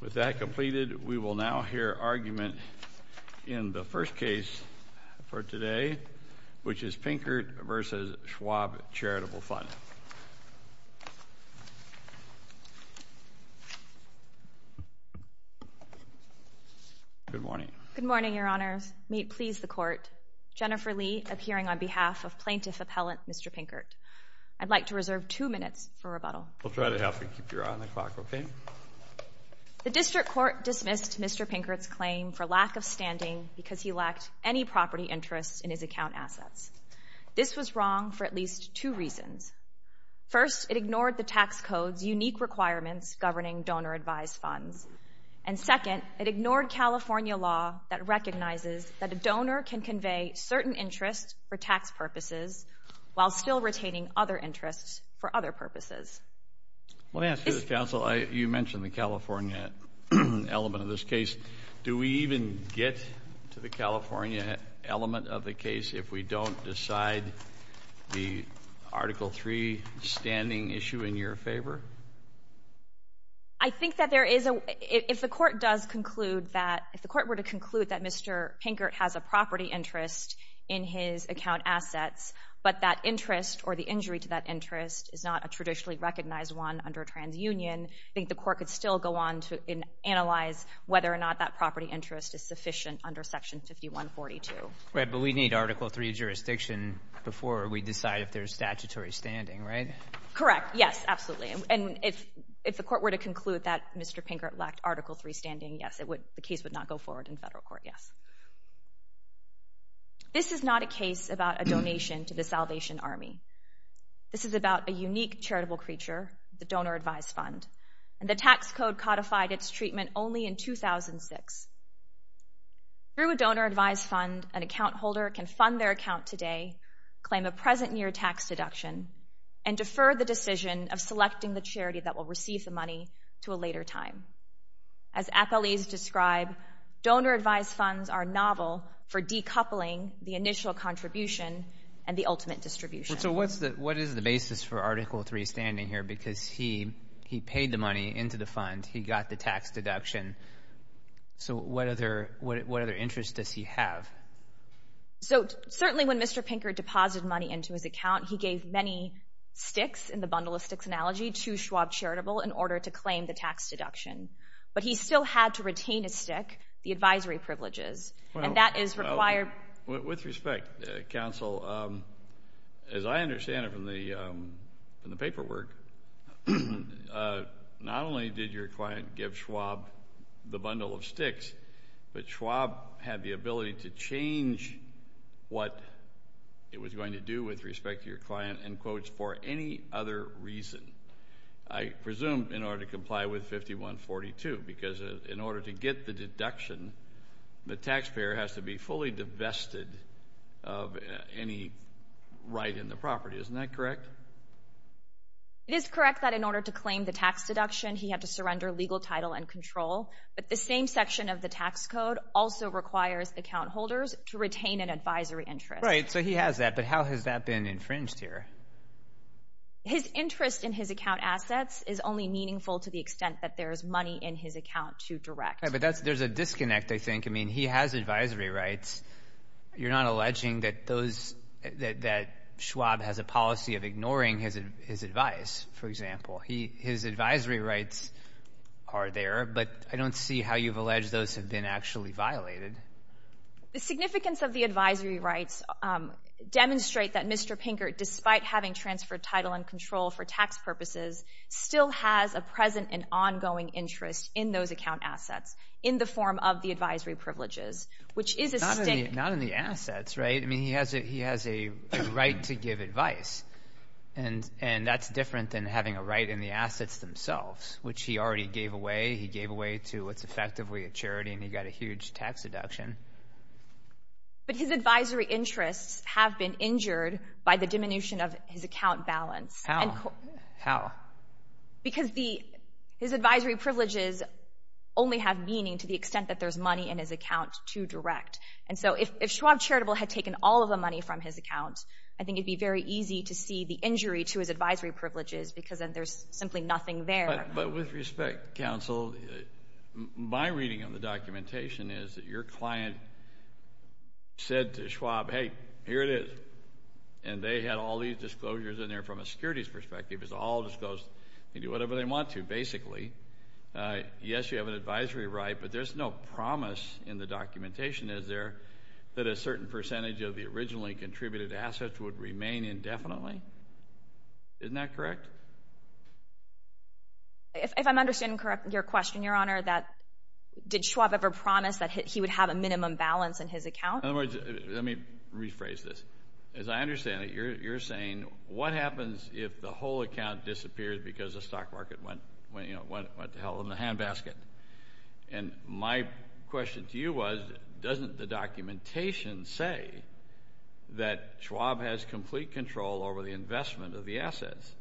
With that completed, we will now hear argument in the first case for today, which is Pinkert v. Schwab Charitable Fund. Good morning. Good morning, Your Honors. May it please the Court, Jennifer Lee appearing on behalf of Plaintiff Appellant Mr. Pinkert. I'd like to reserve two minutes for rebuttal. We'll try to help you keep your eye on the clock, okay? The district court dismissed Mr. Pinkert's claim for lack of standing because he lacked any property interest in his account assets. This was wrong for at least two reasons. First, it ignored the tax code's unique requirements governing donor-advised funds. And second, it ignored California law that recognizes that a donor can convey certain interests for tax purposes while still retaining other interests for other purposes. Let me ask you this, counsel. You mentioned the California element of this case. Do we even get to the California element of the case if we don't decide the Article III standing issue in your favor? I think that there is a — if the Court does conclude that — if the Court were to conclude that Mr. Pinkert has a property interest in his account assets, but that interest or the injury to that interest is not a traditionally recognized one under a transunion, I think the Court could still go on to analyze whether or not that property interest is sufficient under Section 5142. Right, but we need Article III jurisdiction before we decide if there's statutory standing, right? Correct, yes, absolutely. And if the Court were to conclude that Mr. Pinkert lacked Article III standing, yes, the case would not go forward in federal court, yes. This is not a case about a donation to the Salvation Army. This is about a unique charitable creature, the donor-advised fund. And the tax code codified its treatment only in 2006. Through a donor-advised fund, an account holder can fund their account today, claim a present-year tax deduction, and defer the decision of selecting the charity that will receive the money to a later time. As appellees describe, donor-advised funds are novel for decoupling the initial contribution and the ultimate distribution. So what is the basis for Article III standing here? Because he paid the money into the fund. He got the tax deduction. So what other interest does he have? So certainly when Mr. Pinkert deposited money into his account, he gave many sticks in the bundle of sticks analogy to Schwab Charitable in order to claim the tax deduction. But he still had to retain a stick, the advisory privileges, and that is required. With respect, Counsel, as I understand it from the paperwork, not only did your client give Schwab the bundle of sticks, but Schwab had the ability to change what it was going to do with respect to your client, in quotes, for any other reason. I presume in order to comply with 5142, because in order to get the deduction, the taxpayer has to be fully divested of any right in the property. Isn't that correct? It is correct that in order to claim the tax deduction, he had to surrender legal title and control. But the same section of the tax code also requires account holders to retain an advisory interest. Right. So he has that. But how has that been infringed here? His interest in his account assets is only meaningful to the extent that there is money in his account to direct. But there is a disconnect, I think. I mean, he has advisory rights. You're not alleging that Schwab has a policy of ignoring his advice, for example. His advisory rights are there, but I don't see how you've alleged those have been actually violated. The significance of the advisory rights demonstrate that Mr. Pinkert, despite having transferred title and control for tax purposes, still has a present and ongoing interest in those account assets in the form of the advisory privileges, which is a stick. Not in the assets, right? I mean, he has a right to give advice. And that's different than having a right in the assets themselves, which he already gave away. He gave away to what's effectively a charity, and he got a huge tax deduction. But his advisory interests have been injured by the diminution of his account balance. How? How? Because his advisory privileges only have meaning to the extent that there's money in his account to direct. And so if Schwab Charitable had taken all of the money from his account, I think it would be very easy to see the injury to his advisory privileges because there's simply nothing there. But with respect, counsel, my reading of the documentation is that your client said to Schwab, hey, here it is. And they had all these disclosures in there from a securities perspective. It was all disclosed. They can do whatever they want to, basically. Yes, you have an advisory right, but there's no promise in the documentation, is there, that a certain percentage of the originally contributed assets would remain indefinitely? Isn't that correct? If I'm understanding your question, Your Honor, did Schwab ever promise that he would have a minimum balance in his account? In other words, let me rephrase this. As I understand it, you're saying what happens if the whole account disappears because the stock market went to hell in the handbasket? And my question to you was, doesn't the documentation say that Schwab has complete control over the investment of the assets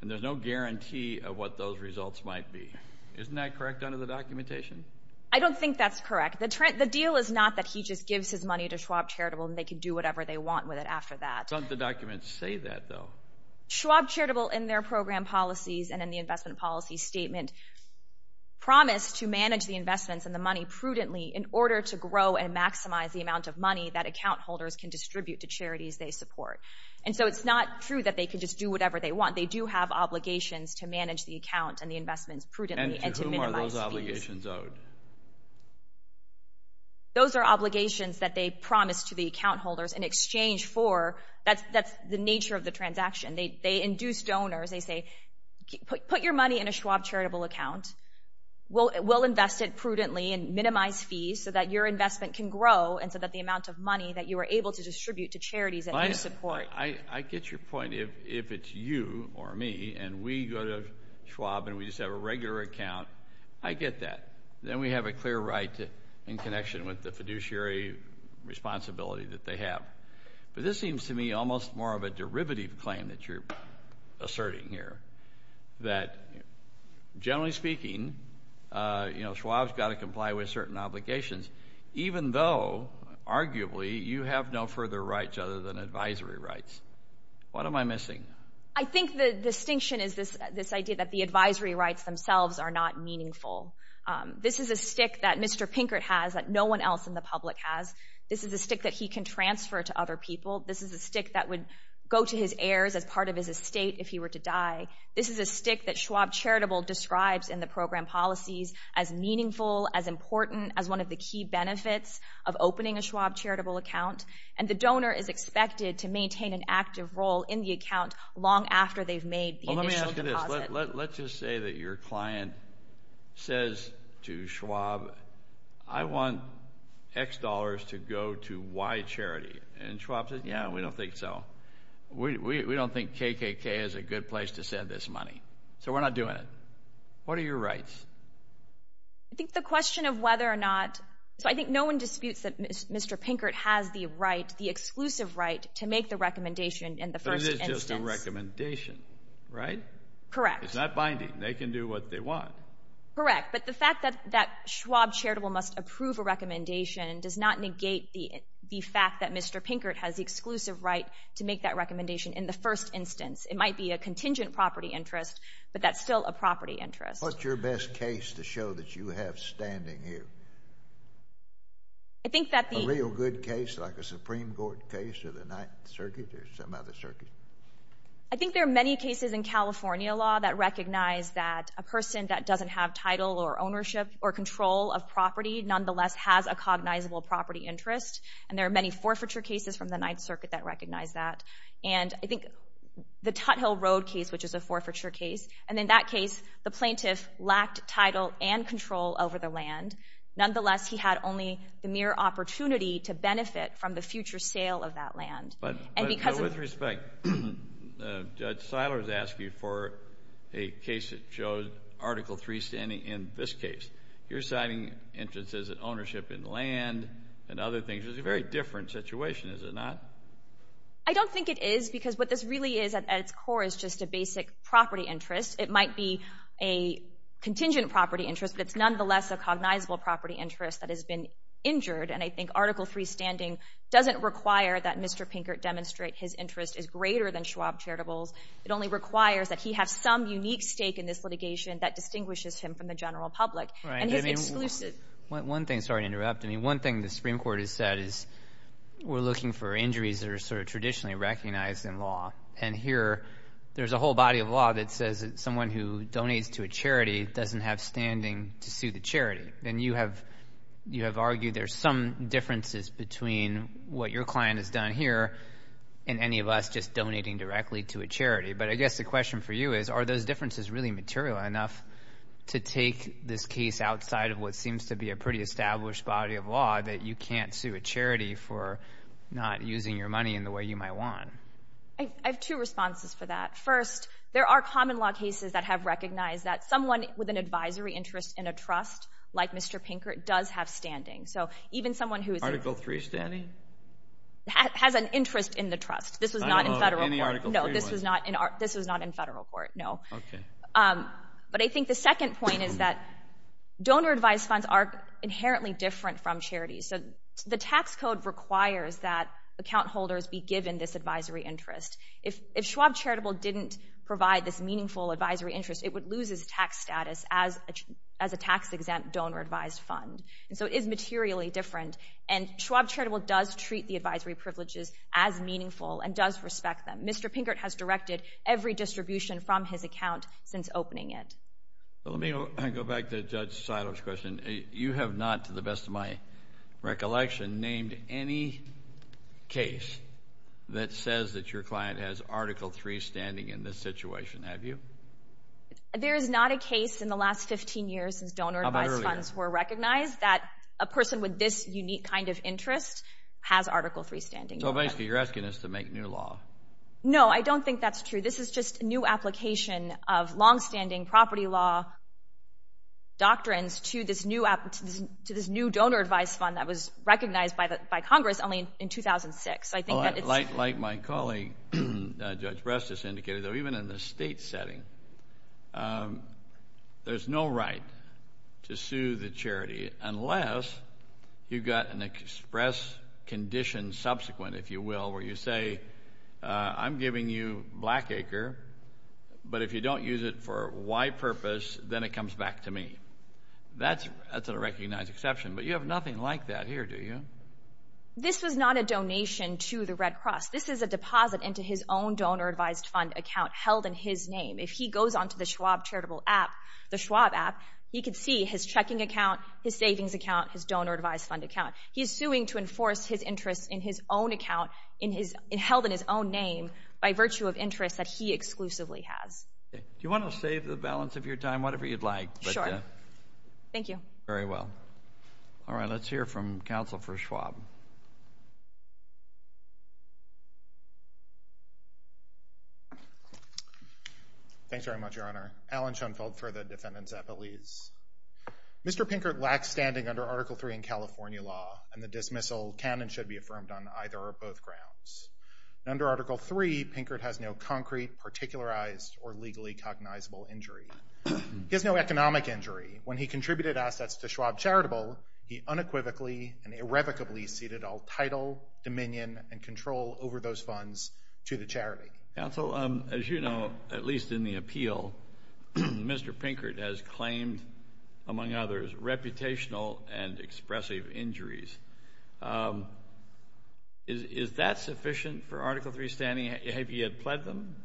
and there's no guarantee of what those results might be? Isn't that correct under the documentation? I don't think that's correct. The deal is not that he just gives his money to Schwab Charitable and they can do whatever they want with it after that. Doesn't the document say that, though? Schwab Charitable, in their program policies and in the investment policy statement, promised to manage the investments and the money prudently in order to grow and maximize the amount of money that account holders can distribute to charities they support. And so it's not true that they can just do whatever they want. They do have obligations to manage the account and the investments prudently and to minimize fees. Those are obligations owed. Those are obligations that they promised to the account holders in exchange for. That's the nature of the transaction. They induce donors. They say, put your money in a Schwab Charitable account. We'll invest it prudently and minimize fees so that your investment can grow and so that the amount of money that you are able to distribute to charities that you support. I get your point. If it's you or me and we go to Schwab and we just have a regular account, I get that. Then we have a clear right in connection with the fiduciary responsibility that they have. But this seems to me almost more of a derivative claim that you're asserting here, that generally speaking, you know, Schwab's got to comply with certain obligations, even though, arguably, you have no further rights other than advisory rights. What am I missing? I think the distinction is this idea that the advisory rights themselves are not meaningful. This is a stick that Mr. Pinkert has that no one else in the public has. This is a stick that he can transfer to other people. This is a stick that would go to his heirs as part of his estate if he were to die. This is a stick that Schwab Charitable describes in the program policies as meaningful, as important, as one of the key benefits of opening a Schwab Charitable account. And the donor is expected to maintain an active role in the account long after they've made the initial deposit. Well, let me ask you this. Let's just say that your client says to Schwab, I want X dollars to go to Y charity. And Schwab says, yeah, we don't think so. We don't think KKK is a good place to send this money. So we're not doing it. What are your rights? I think the question of whether or not, so I think no one disputes that Mr. Pinkert has the right, the exclusive right to make the recommendation in the first instance. But it is just a recommendation, right? Correct. It's not binding. They can do what they want. Correct. But the fact that Schwab Charitable must approve a recommendation does not negate the fact that Mr. Pinkert has the exclusive right to make that recommendation in the first instance. It might be a contingent property interest, but that's still a property interest. What's your best case to show that you have standing here? A real good case like a Supreme Court case or the Ninth Circuit or some other circuit? I think there are many cases in California law that recognize that a person that doesn't have title or ownership or control of property nonetheless has a cognizable property interest. And there are many forfeiture cases from the Ninth Circuit that recognize that. And I think the Tut Hill Road case, which is a forfeiture case, and in that case the plaintiff lacked title and control over the land. Nonetheless, he had only the mere opportunity to benefit from the future sale of that land. But with respect, Judge Seiler is asking for a case that shows Article III standing in this case. You're citing interest as an ownership in land and other things. It's a very different situation, is it not? I don't think it is because what this really is at its core is just a basic property interest. It might be a contingent property interest, but it's nonetheless a cognizable property interest that has been injured. And I think Article III standing doesn't require that Mr. Pinkert demonstrate his interest is greater than Schwab charitables. It only requires that he have some unique stake in this litigation that distinguishes him from the general public. One thing, sorry to interrupt. One thing the Supreme Court has said is we're looking for injuries that are sort of traditionally recognized in law. And here there's a whole body of law that says that someone who donates to a charity doesn't have standing to sue the charity. And you have argued there's some differences between what your client has done here and any of us just donating directly to a charity. But I guess the question for you is are those differences really material enough to take this case outside of what seems to be a pretty established body of law that you can't sue a charity for not using your money in the way you might want? I have two responses for that. First, there are common law cases that have recognized that someone with an advisory interest in a trust like Mr. Pinkert does have standing. So even someone who is – Article III standing? Has an interest in the trust. This was not in federal court. No, this was not in federal court, no. But I think the second point is that donor-advised funds are inherently different from charities. So the tax code requires that account holders be given this advisory interest. If Schwab Charitable didn't provide this meaningful advisory interest, it would lose its tax status as a tax-exempt donor-advised fund. So it is materially different. And Schwab Charitable does treat the advisory privileges as meaningful and does respect them. Mr. Pinkert has directed every distribution from his account since opening it. Let me go back to Judge Seiler's question. You have not, to the best of my recollection, named any case that says that your client has Article III standing in this situation, have you? There is not a case in the last 15 years since donor-advised funds were recognized that a person with this unique kind of interest has Article III standing. So basically you're asking us to make new law. No, I don't think that's true. This is just a new application of longstanding property law doctrines to this new donor-advised fund that was recognized by Congress only in 2006. Like my colleague Judge Brestis indicated, though, even in the state setting, there's no right to sue the charity unless you've got an express condition subsequent, if you will, where you say, I'm giving you Blackacre, but if you don't use it for Y purpose, then it comes back to me. That's a recognized exception. But you have nothing like that here, do you? This was not a donation to the Red Cross. This is a deposit into his own donor-advised fund account held in his name. If he goes onto the Schwab Charitable app, the Schwab app, you can see his checking account, his savings account, his donor-advised fund account. He's suing to enforce his interests in his own account held in his own name by virtue of interests that he exclusively has. Do you want to save the balance of your time, whatever you'd like? Sure. Thank you. Very well. All right, let's hear from counsel for Schwab. Thanks very much, Your Honor. Alan Schoenfeld for the defendants' appellees. Mr. Pinkert lacks standing under Article III in California law, and the dismissal can and should be affirmed on either or both grounds. Under Article III, Pinkert has no concrete, particularized, or legally cognizable injury. He has no economic injury. When he contributed assets to Schwab Charitable, he unequivocally and irrevocably ceded all title, dominion, and control over those funds to the charity. Counsel, as you know, at least in the appeal, Mr. Pinkert has claimed, among others, reputational and expressive injuries. Is that sufficient for Article III standing? Have you yet pled them?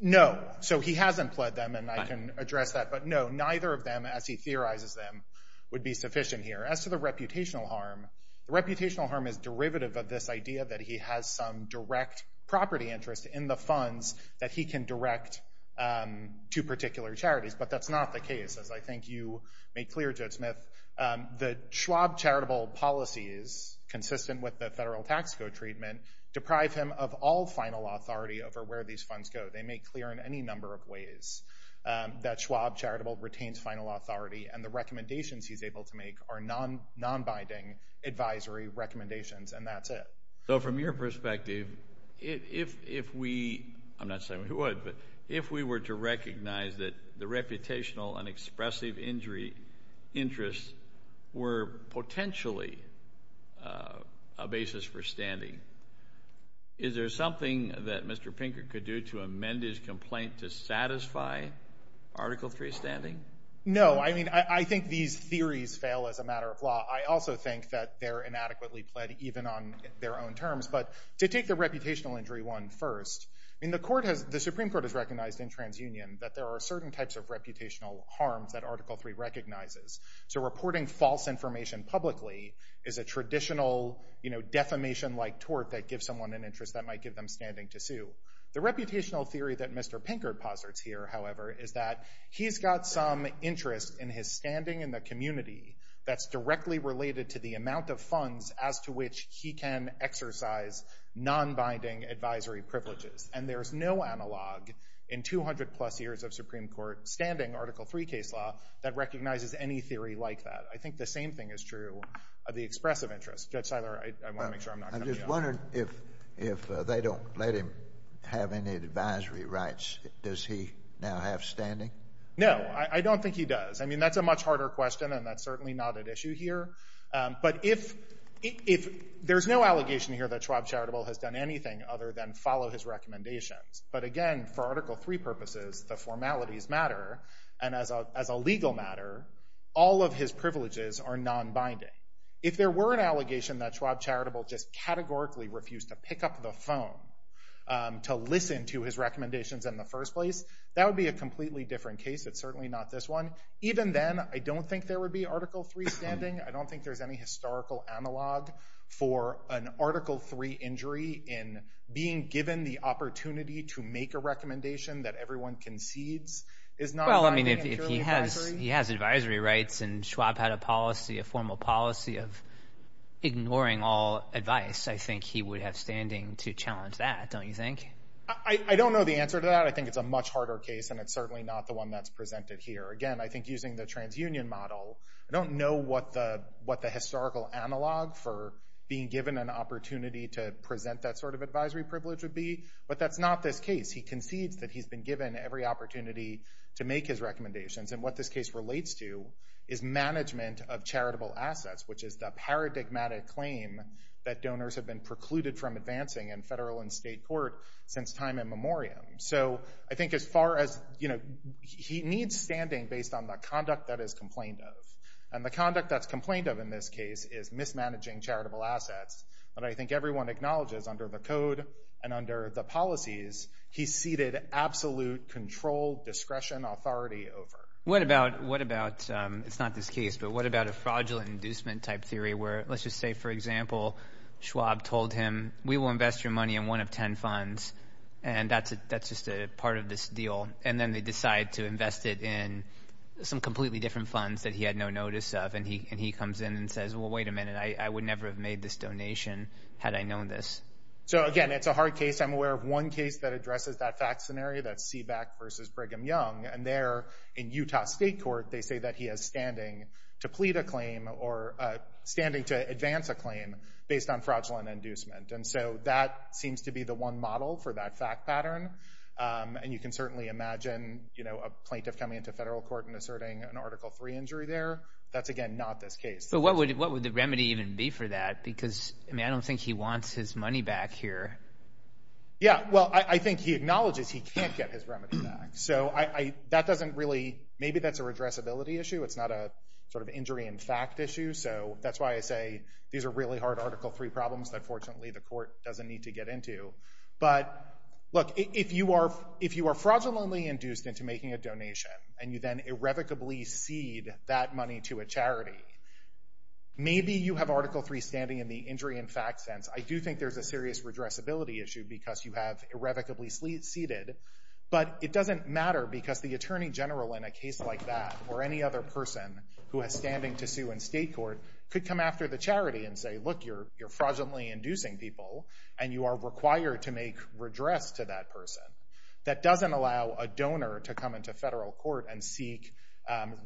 No. So he hasn't pled them, and I can address that. But no, neither of them, as he theorizes them, would be sufficient here. As to the reputational harm, the reputational harm is derivative of this idea that he has some direct property interest in the funds that he can direct to particular charities. But that's not the case. As I think you made clear, Judge Smith, the Schwab Charitable policies, consistent with the federal tax code treatment, deprive him of all final authority over where these funds go. They make clear in any number of ways that Schwab Charitable retains final authority, and the recommendations he's able to make are non-binding advisory recommendations, and that's it. So from your perspective, if we – I'm not saying we would, but if we were to recognize that the reputational and expressive injury interests were potentially a basis for standing, is there something that Mr. Pinkert could do to amend his complaint to satisfy Article III standing? No. I mean, I think these theories fail as a matter of law. I also think that they're inadequately pled even on their own terms. But to take the reputational injury one first, I mean, the Supreme Court has recognized in TransUnion that there are certain types of reputational harms that Article III recognizes. So reporting false information publicly is a traditional defamation-like tort that gives someone an interest that might give them standing to sue. The reputational theory that Mr. Pinkert posits here, however, is that he's got some interest in his standing in the community that's directly related to the amount of funds as to which he can exercise non-binding advisory privileges. And there's no analog in 200-plus years of Supreme Court standing, Article III case law, that recognizes any theory like that. I think the same thing is true of the expressive interest. Judge Seiler, I want to make sure I'm not cutting you off. I'm just wondering if they don't let him have any advisory rights, does he now have standing? No, I don't think he does. I mean, that's a much harder question, and that's certainly not at issue here. But there's no allegation here that Schwab Charitable has done anything other than follow his recommendations. But again, for Article III purposes, the formalities matter. And as a legal matter, all of his privileges are non-binding. If there were an allegation that Schwab Charitable just categorically refused to pick up the phone to listen to his recommendations in the first place, that would be a completely different case. It's certainly not this one. Even then, I don't think there would be Article III standing. I don't think there's any historical analog for an Article III injury in being given the opportunity to make a recommendation that everyone concedes is non-binding and purely advisory. If he has advisory rights and Schwab had a policy, a formal policy of ignoring all advice, I think he would have standing to challenge that, don't you think? I don't know the answer to that. I think it's a much harder case, and it's certainly not the one that's presented here. Again, I think using the trans-union model, I don't know what the historical analog for being given an opportunity to present that sort of advisory privilege would be. But that's not this case. He concedes that he's been given every opportunity to make his recommendations. And what this case relates to is management of charitable assets, which is the paradigmatic claim that donors have been precluded from advancing in federal and state court since time immemorial. So I think as far as—he needs standing based on the conduct that is complained of. And the conduct that's complained of in this case is mismanaging charitable assets. But I think everyone acknowledges under the code and under the policies, he's ceded absolute control, discretion, authority over. What about—it's not this case, but what about a fraudulent inducement type theory where let's just say, for example, Schwab told him, we will invest your money in one of ten funds, and that's just a part of this deal. And then they decide to invest it in some completely different funds that he had no notice of. And he comes in and says, well, wait a minute. I would never have made this donation had I known this. So, again, it's a hard case. I'm aware of one case that addresses that fact scenario. That's Seeback v. Brigham Young. And there in Utah State Court, they say that he has standing to plead a claim or standing to advance a claim based on fraudulent inducement. And so that seems to be the one model for that fact pattern. And you can certainly imagine a plaintiff coming into federal court and asserting an Article III injury there. That's, again, not this case. But what would the remedy even be for that? Because, I mean, I don't think he wants his money back here. Yeah, well, I think he acknowledges he can't get his remedy back. So that doesn't really—maybe that's a redressability issue. It's not a sort of injury in fact issue. So that's why I say these are really hard Article III problems that, fortunately, the court doesn't need to get into. But, look, if you are fraudulently induced into making a donation and you then irrevocably cede that money to a charity, maybe you have Article III standing in the injury in fact sense. I do think there's a serious redressability issue because you have irrevocably ceded. But it doesn't matter because the attorney general in a case like that or any other person who has standing to sue in state court could come after the charity and say, look, you're fraudulently inducing people, and you are required to make redress to that person. That doesn't allow a donor to come into federal court and seek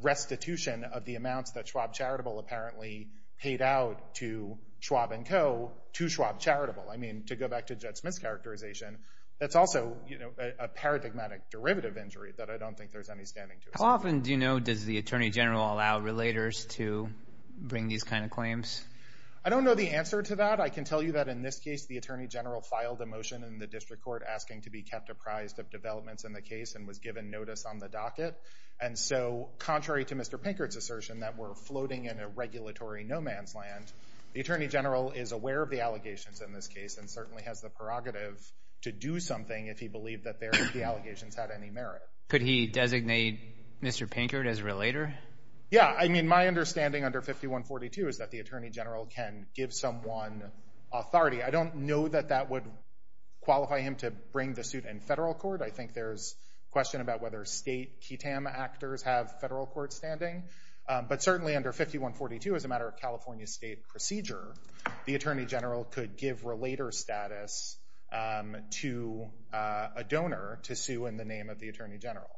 restitution of the amounts that Schwab Charitable apparently paid out to Schwab & Co. to Schwab Charitable. I mean, to go back to Judge Smith's characterization, that's also a paradigmatic derivative injury that I don't think there's any standing to. How often do you know does the attorney general allow relators to bring these kind of claims? I don't know the answer to that. I can tell you that in this case the attorney general filed a motion in the district court asking to be kept apprised of developments in the case and was given notice on the docket. And so contrary to Mr. Pinkert's assertion that we're floating in a regulatory no man's land, the attorney general is aware of the allegations in this case and certainly has the prerogative to do something if he believed that the allegations had any merit. Could he designate Mr. Pinkert as a relator? Yeah. I mean, my understanding under 5142 is that the attorney general can give someone authority. I don't know that that would qualify him to bring the suit in federal court. I think there's a question about whether state KTAM actors have federal court standing. But certainly under 5142, as a matter of California state procedure, the attorney general could give relator status to a donor to sue in the name of the attorney general.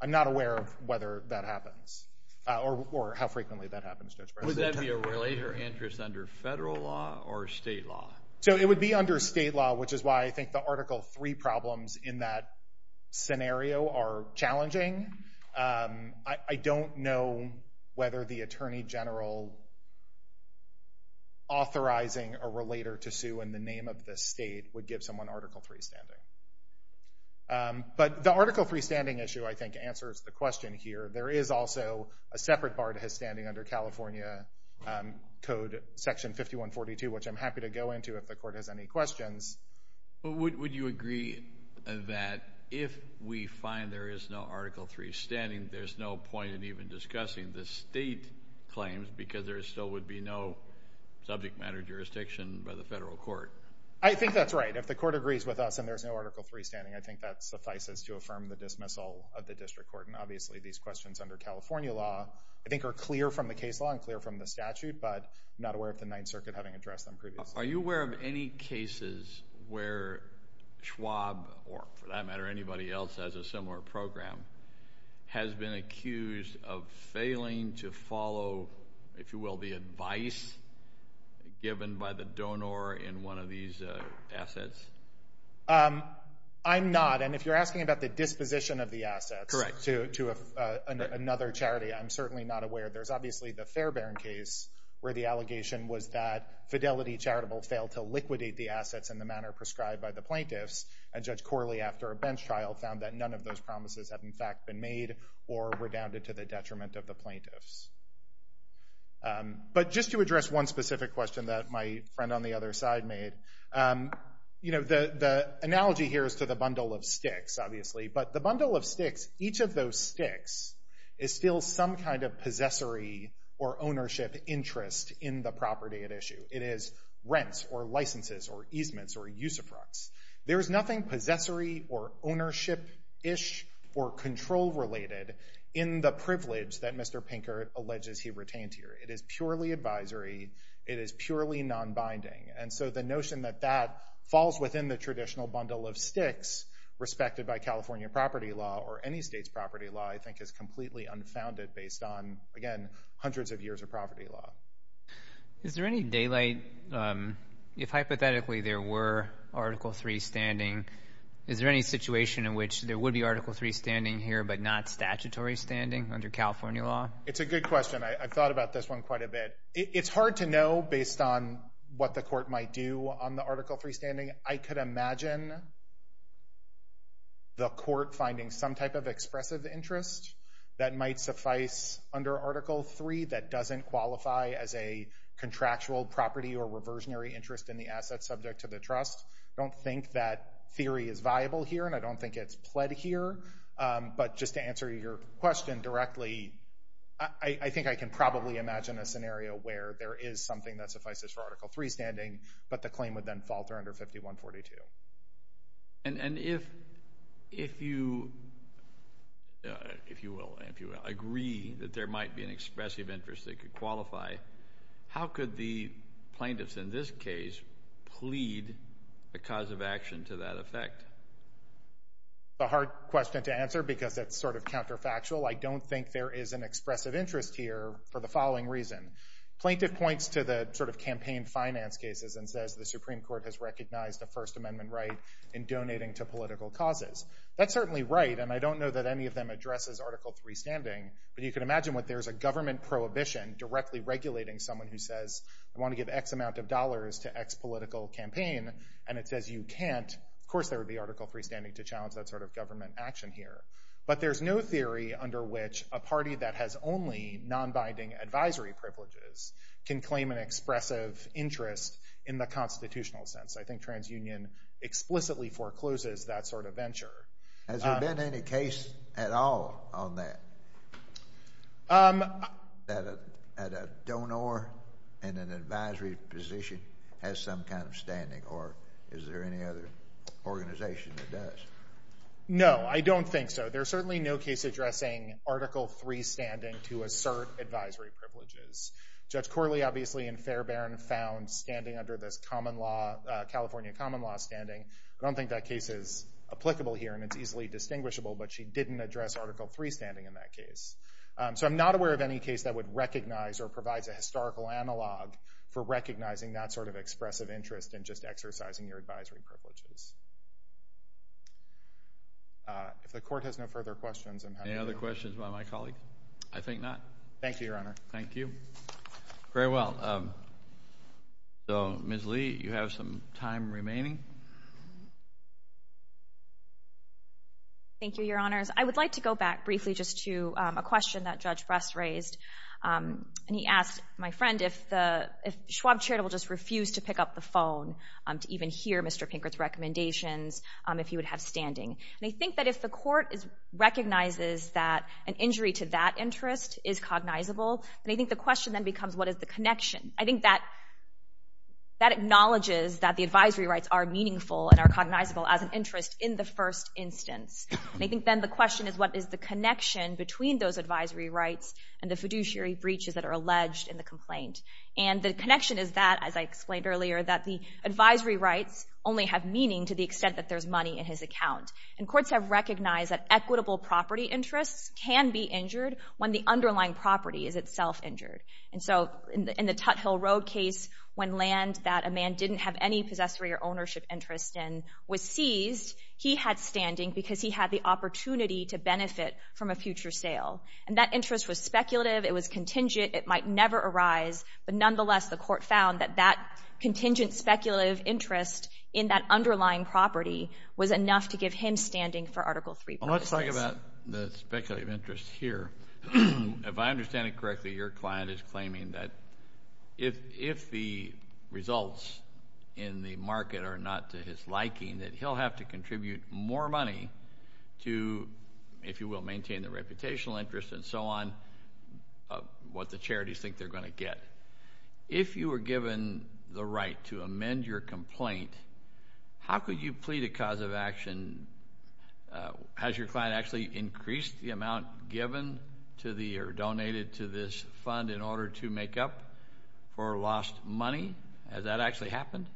I'm not aware of whether that happens or how frequently that happens. Would that be a relator interest under federal law or state law? So it would be under state law, which is why I think the Article III problems in that scenario are challenging. I don't know whether the attorney general authorizing a relator to sue in the name of the state would give someone Article III standing. But the Article III standing issue, I think, answers the question here. There is also a separate bar to his standing under California Code, Section 5142, which I'm happy to go into if the court has any questions. Would you agree that if we find there is no Article III standing, there's no point in even discussing the state claims because there still would be no subject matter jurisdiction by the federal court? I think that's right. If the court agrees with us and there's no Article III standing, I think that suffices to affirm the dismissal of the district court. And obviously, these questions under California law, I think, are clear from the case law and clear from the statute. But I'm not aware of the Ninth Circuit having addressed them previously. Are you aware of any cases where Schwab or, for that matter, anybody else that has a similar program has been accused of failing to follow, if you will, the advice given by the donor in one of these assets? I'm not. And if you're asking about the disposition of the assets to another charity, I'm certainly not aware. There's obviously the Fairbairn case where the allegation was that Fidelity Charitable failed to liquidate the assets in the manner prescribed by the plaintiffs, and Judge Corley, after a bench trial, found that none of those promises had in fact been made or redounded to the detriment of the plaintiffs. But just to address one specific question that my friend on the other side made, the analogy here is to the bundle of sticks, obviously. But the bundle of sticks, each of those sticks, is still some kind of possessory or ownership interest in the property at issue. It is rents or licenses or easements or usufructs. There is nothing possessory or ownership-ish or control-related in the privilege that Mr. Pinker alleges he retained here. It is purely advisory. It is purely nonbinding. And so the notion that that falls within the traditional bundle of sticks respected by California property law or any state's property law, I think is completely unfounded based on, again, hundreds of years of property law. Is there any daylight, if hypothetically there were Article III standing, is there any situation in which there would be Article III standing here but not statutory standing under California law? It's a good question. I've thought about this one quite a bit. It's hard to know based on what the court might do on the Article III standing. I could imagine the court finding some type of expressive interest that might suffice under Article III that doesn't qualify as a contractual property or reversionary interest in the asset subject to the trust. I don't think that theory is viable here, and I don't think it's pled here. But just to answer your question directly, I think I can probably imagine a scenario where there is something that suffices for Article III standing, but the claim would then falter under 5142. And if you agree that there might be an expressive interest that could qualify, how could the plaintiffs in this case plead the cause of action to that effect? It's a hard question to answer because it's sort of counterfactual. I don't think there is an expressive interest here for the following reason. Plaintiff points to the sort of campaign finance cases and says the Supreme Court has recognized a First Amendment right in donating to political causes. That's certainly right, and I don't know that any of them addresses Article III standing, but you can imagine what there is a government prohibition directly regulating someone who says I want to give X amount of dollars to X political campaign, and it says you can't. Of course there would be Article III standing to challenge that sort of government action here. But there's no theory under which a party that has only nonbinding advisory privileges can claim an expressive interest in the constitutional sense. I think TransUnion explicitly forecloses that sort of venture. Has there been any case at all on that, that a donor in an advisory position has some kind of standing, or is there any other organization that does? No, I don't think so. There's certainly no case addressing Article III standing to assert advisory privileges. Judge Corley obviously in Fairbairn found standing under this California common law standing. I don't think that case is applicable here, and it's easily distinguishable, but she didn't address Article III standing in that case. So I'm not aware of any case that would recognize or provides a historical analog for recognizing that sort of expressive interest in just exercising your advisory privileges. If the Court has no further questions, I'm happy to go. Any other questions by my colleague? I think not. Thank you, Your Honor. Thank you. Very well. So, Ms. Lee, you have some time remaining. Thank you, Your Honors. I would like to go back briefly just to a question that Judge Bress raised. And he asked, my friend, if the Schwab charitable just refused to pick up the phone to even hear Mr. Pinkert's recommendations, if he would have standing. And I think that if the Court recognizes that an injury to that interest is cognizable, then I think the question then becomes, what is the connection? I think that acknowledges that the advisory rights are meaningful and are cognizable as an interest in the first instance. And I think then the question is, what is the connection between those advisory rights and the fiduciary breaches that are alleged in the complaint? And the connection is that, as I explained earlier, that the advisory rights only have meaning to the extent that there's money in his account. And courts have recognized that equitable property interests can be injured when the underlying property is itself injured. And so, in the Tut Hill Road case, when land that a man didn't have any possessory or ownership interest in was seized, he had standing because he had the opportunity to benefit from a future sale. And that interest was speculative. It was contingent. It might never arise. But nonetheless, the Court found that that contingent speculative interest in that underlying property was enough to give him standing for Article III. Well, let's talk about the speculative interest here. If I understand it correctly, your client is claiming that if the results in the market are not to his liking, that he'll have to contribute more money to, if you will, maintain the reputational interest and so on, what the charities think they're going to get. If you were given the right to amend your complaint, how could you plead a cause of action? Has your client actually increased the amount given to the or donated to this fund in order to make up for lost money? Has that actually happened?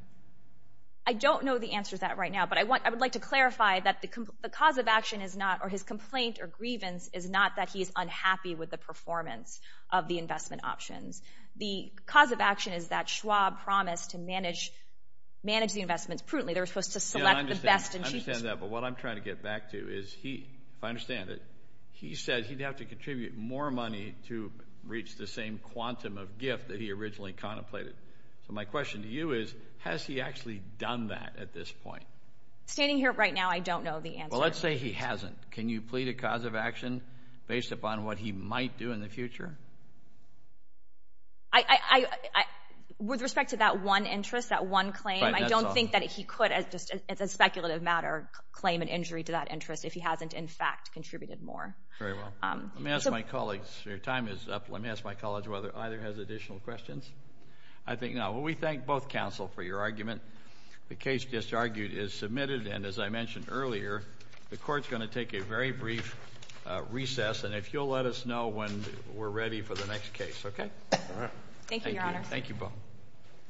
I don't know the answer to that right now, but I would like to clarify that the cause of action is not, or his complaint or grievance, is not that he is unhappy with the performance of the investment options. The cause of action is that Schwab promised to manage the investments prudently. They were supposed to select the best and cheapest. I understand that, but what I'm trying to get back to is he, if I understand it, he said he'd have to contribute more money to reach the same quantum of gift that he originally contemplated. So my question to you is, has he actually done that at this point? Standing here right now, I don't know the answer. Well, let's say he hasn't. Can you plead a cause of action based upon what he might do in the future? With respect to that one interest, that one claim, I don't think that he could, as a speculative matter, claim an injury to that interest if he hasn't, in fact, contributed more. Very well. Let me ask my colleagues. Your time is up. Well, let me ask my colleagues whether either has additional questions. I think not. Well, we thank both counsel for your argument. The case just argued is submitted, and as I mentioned earlier, the Court is going to take a very brief recess, and if you'll let us know when we're ready for the next case, okay? Thank you, Your Honor. Thank you, Bo.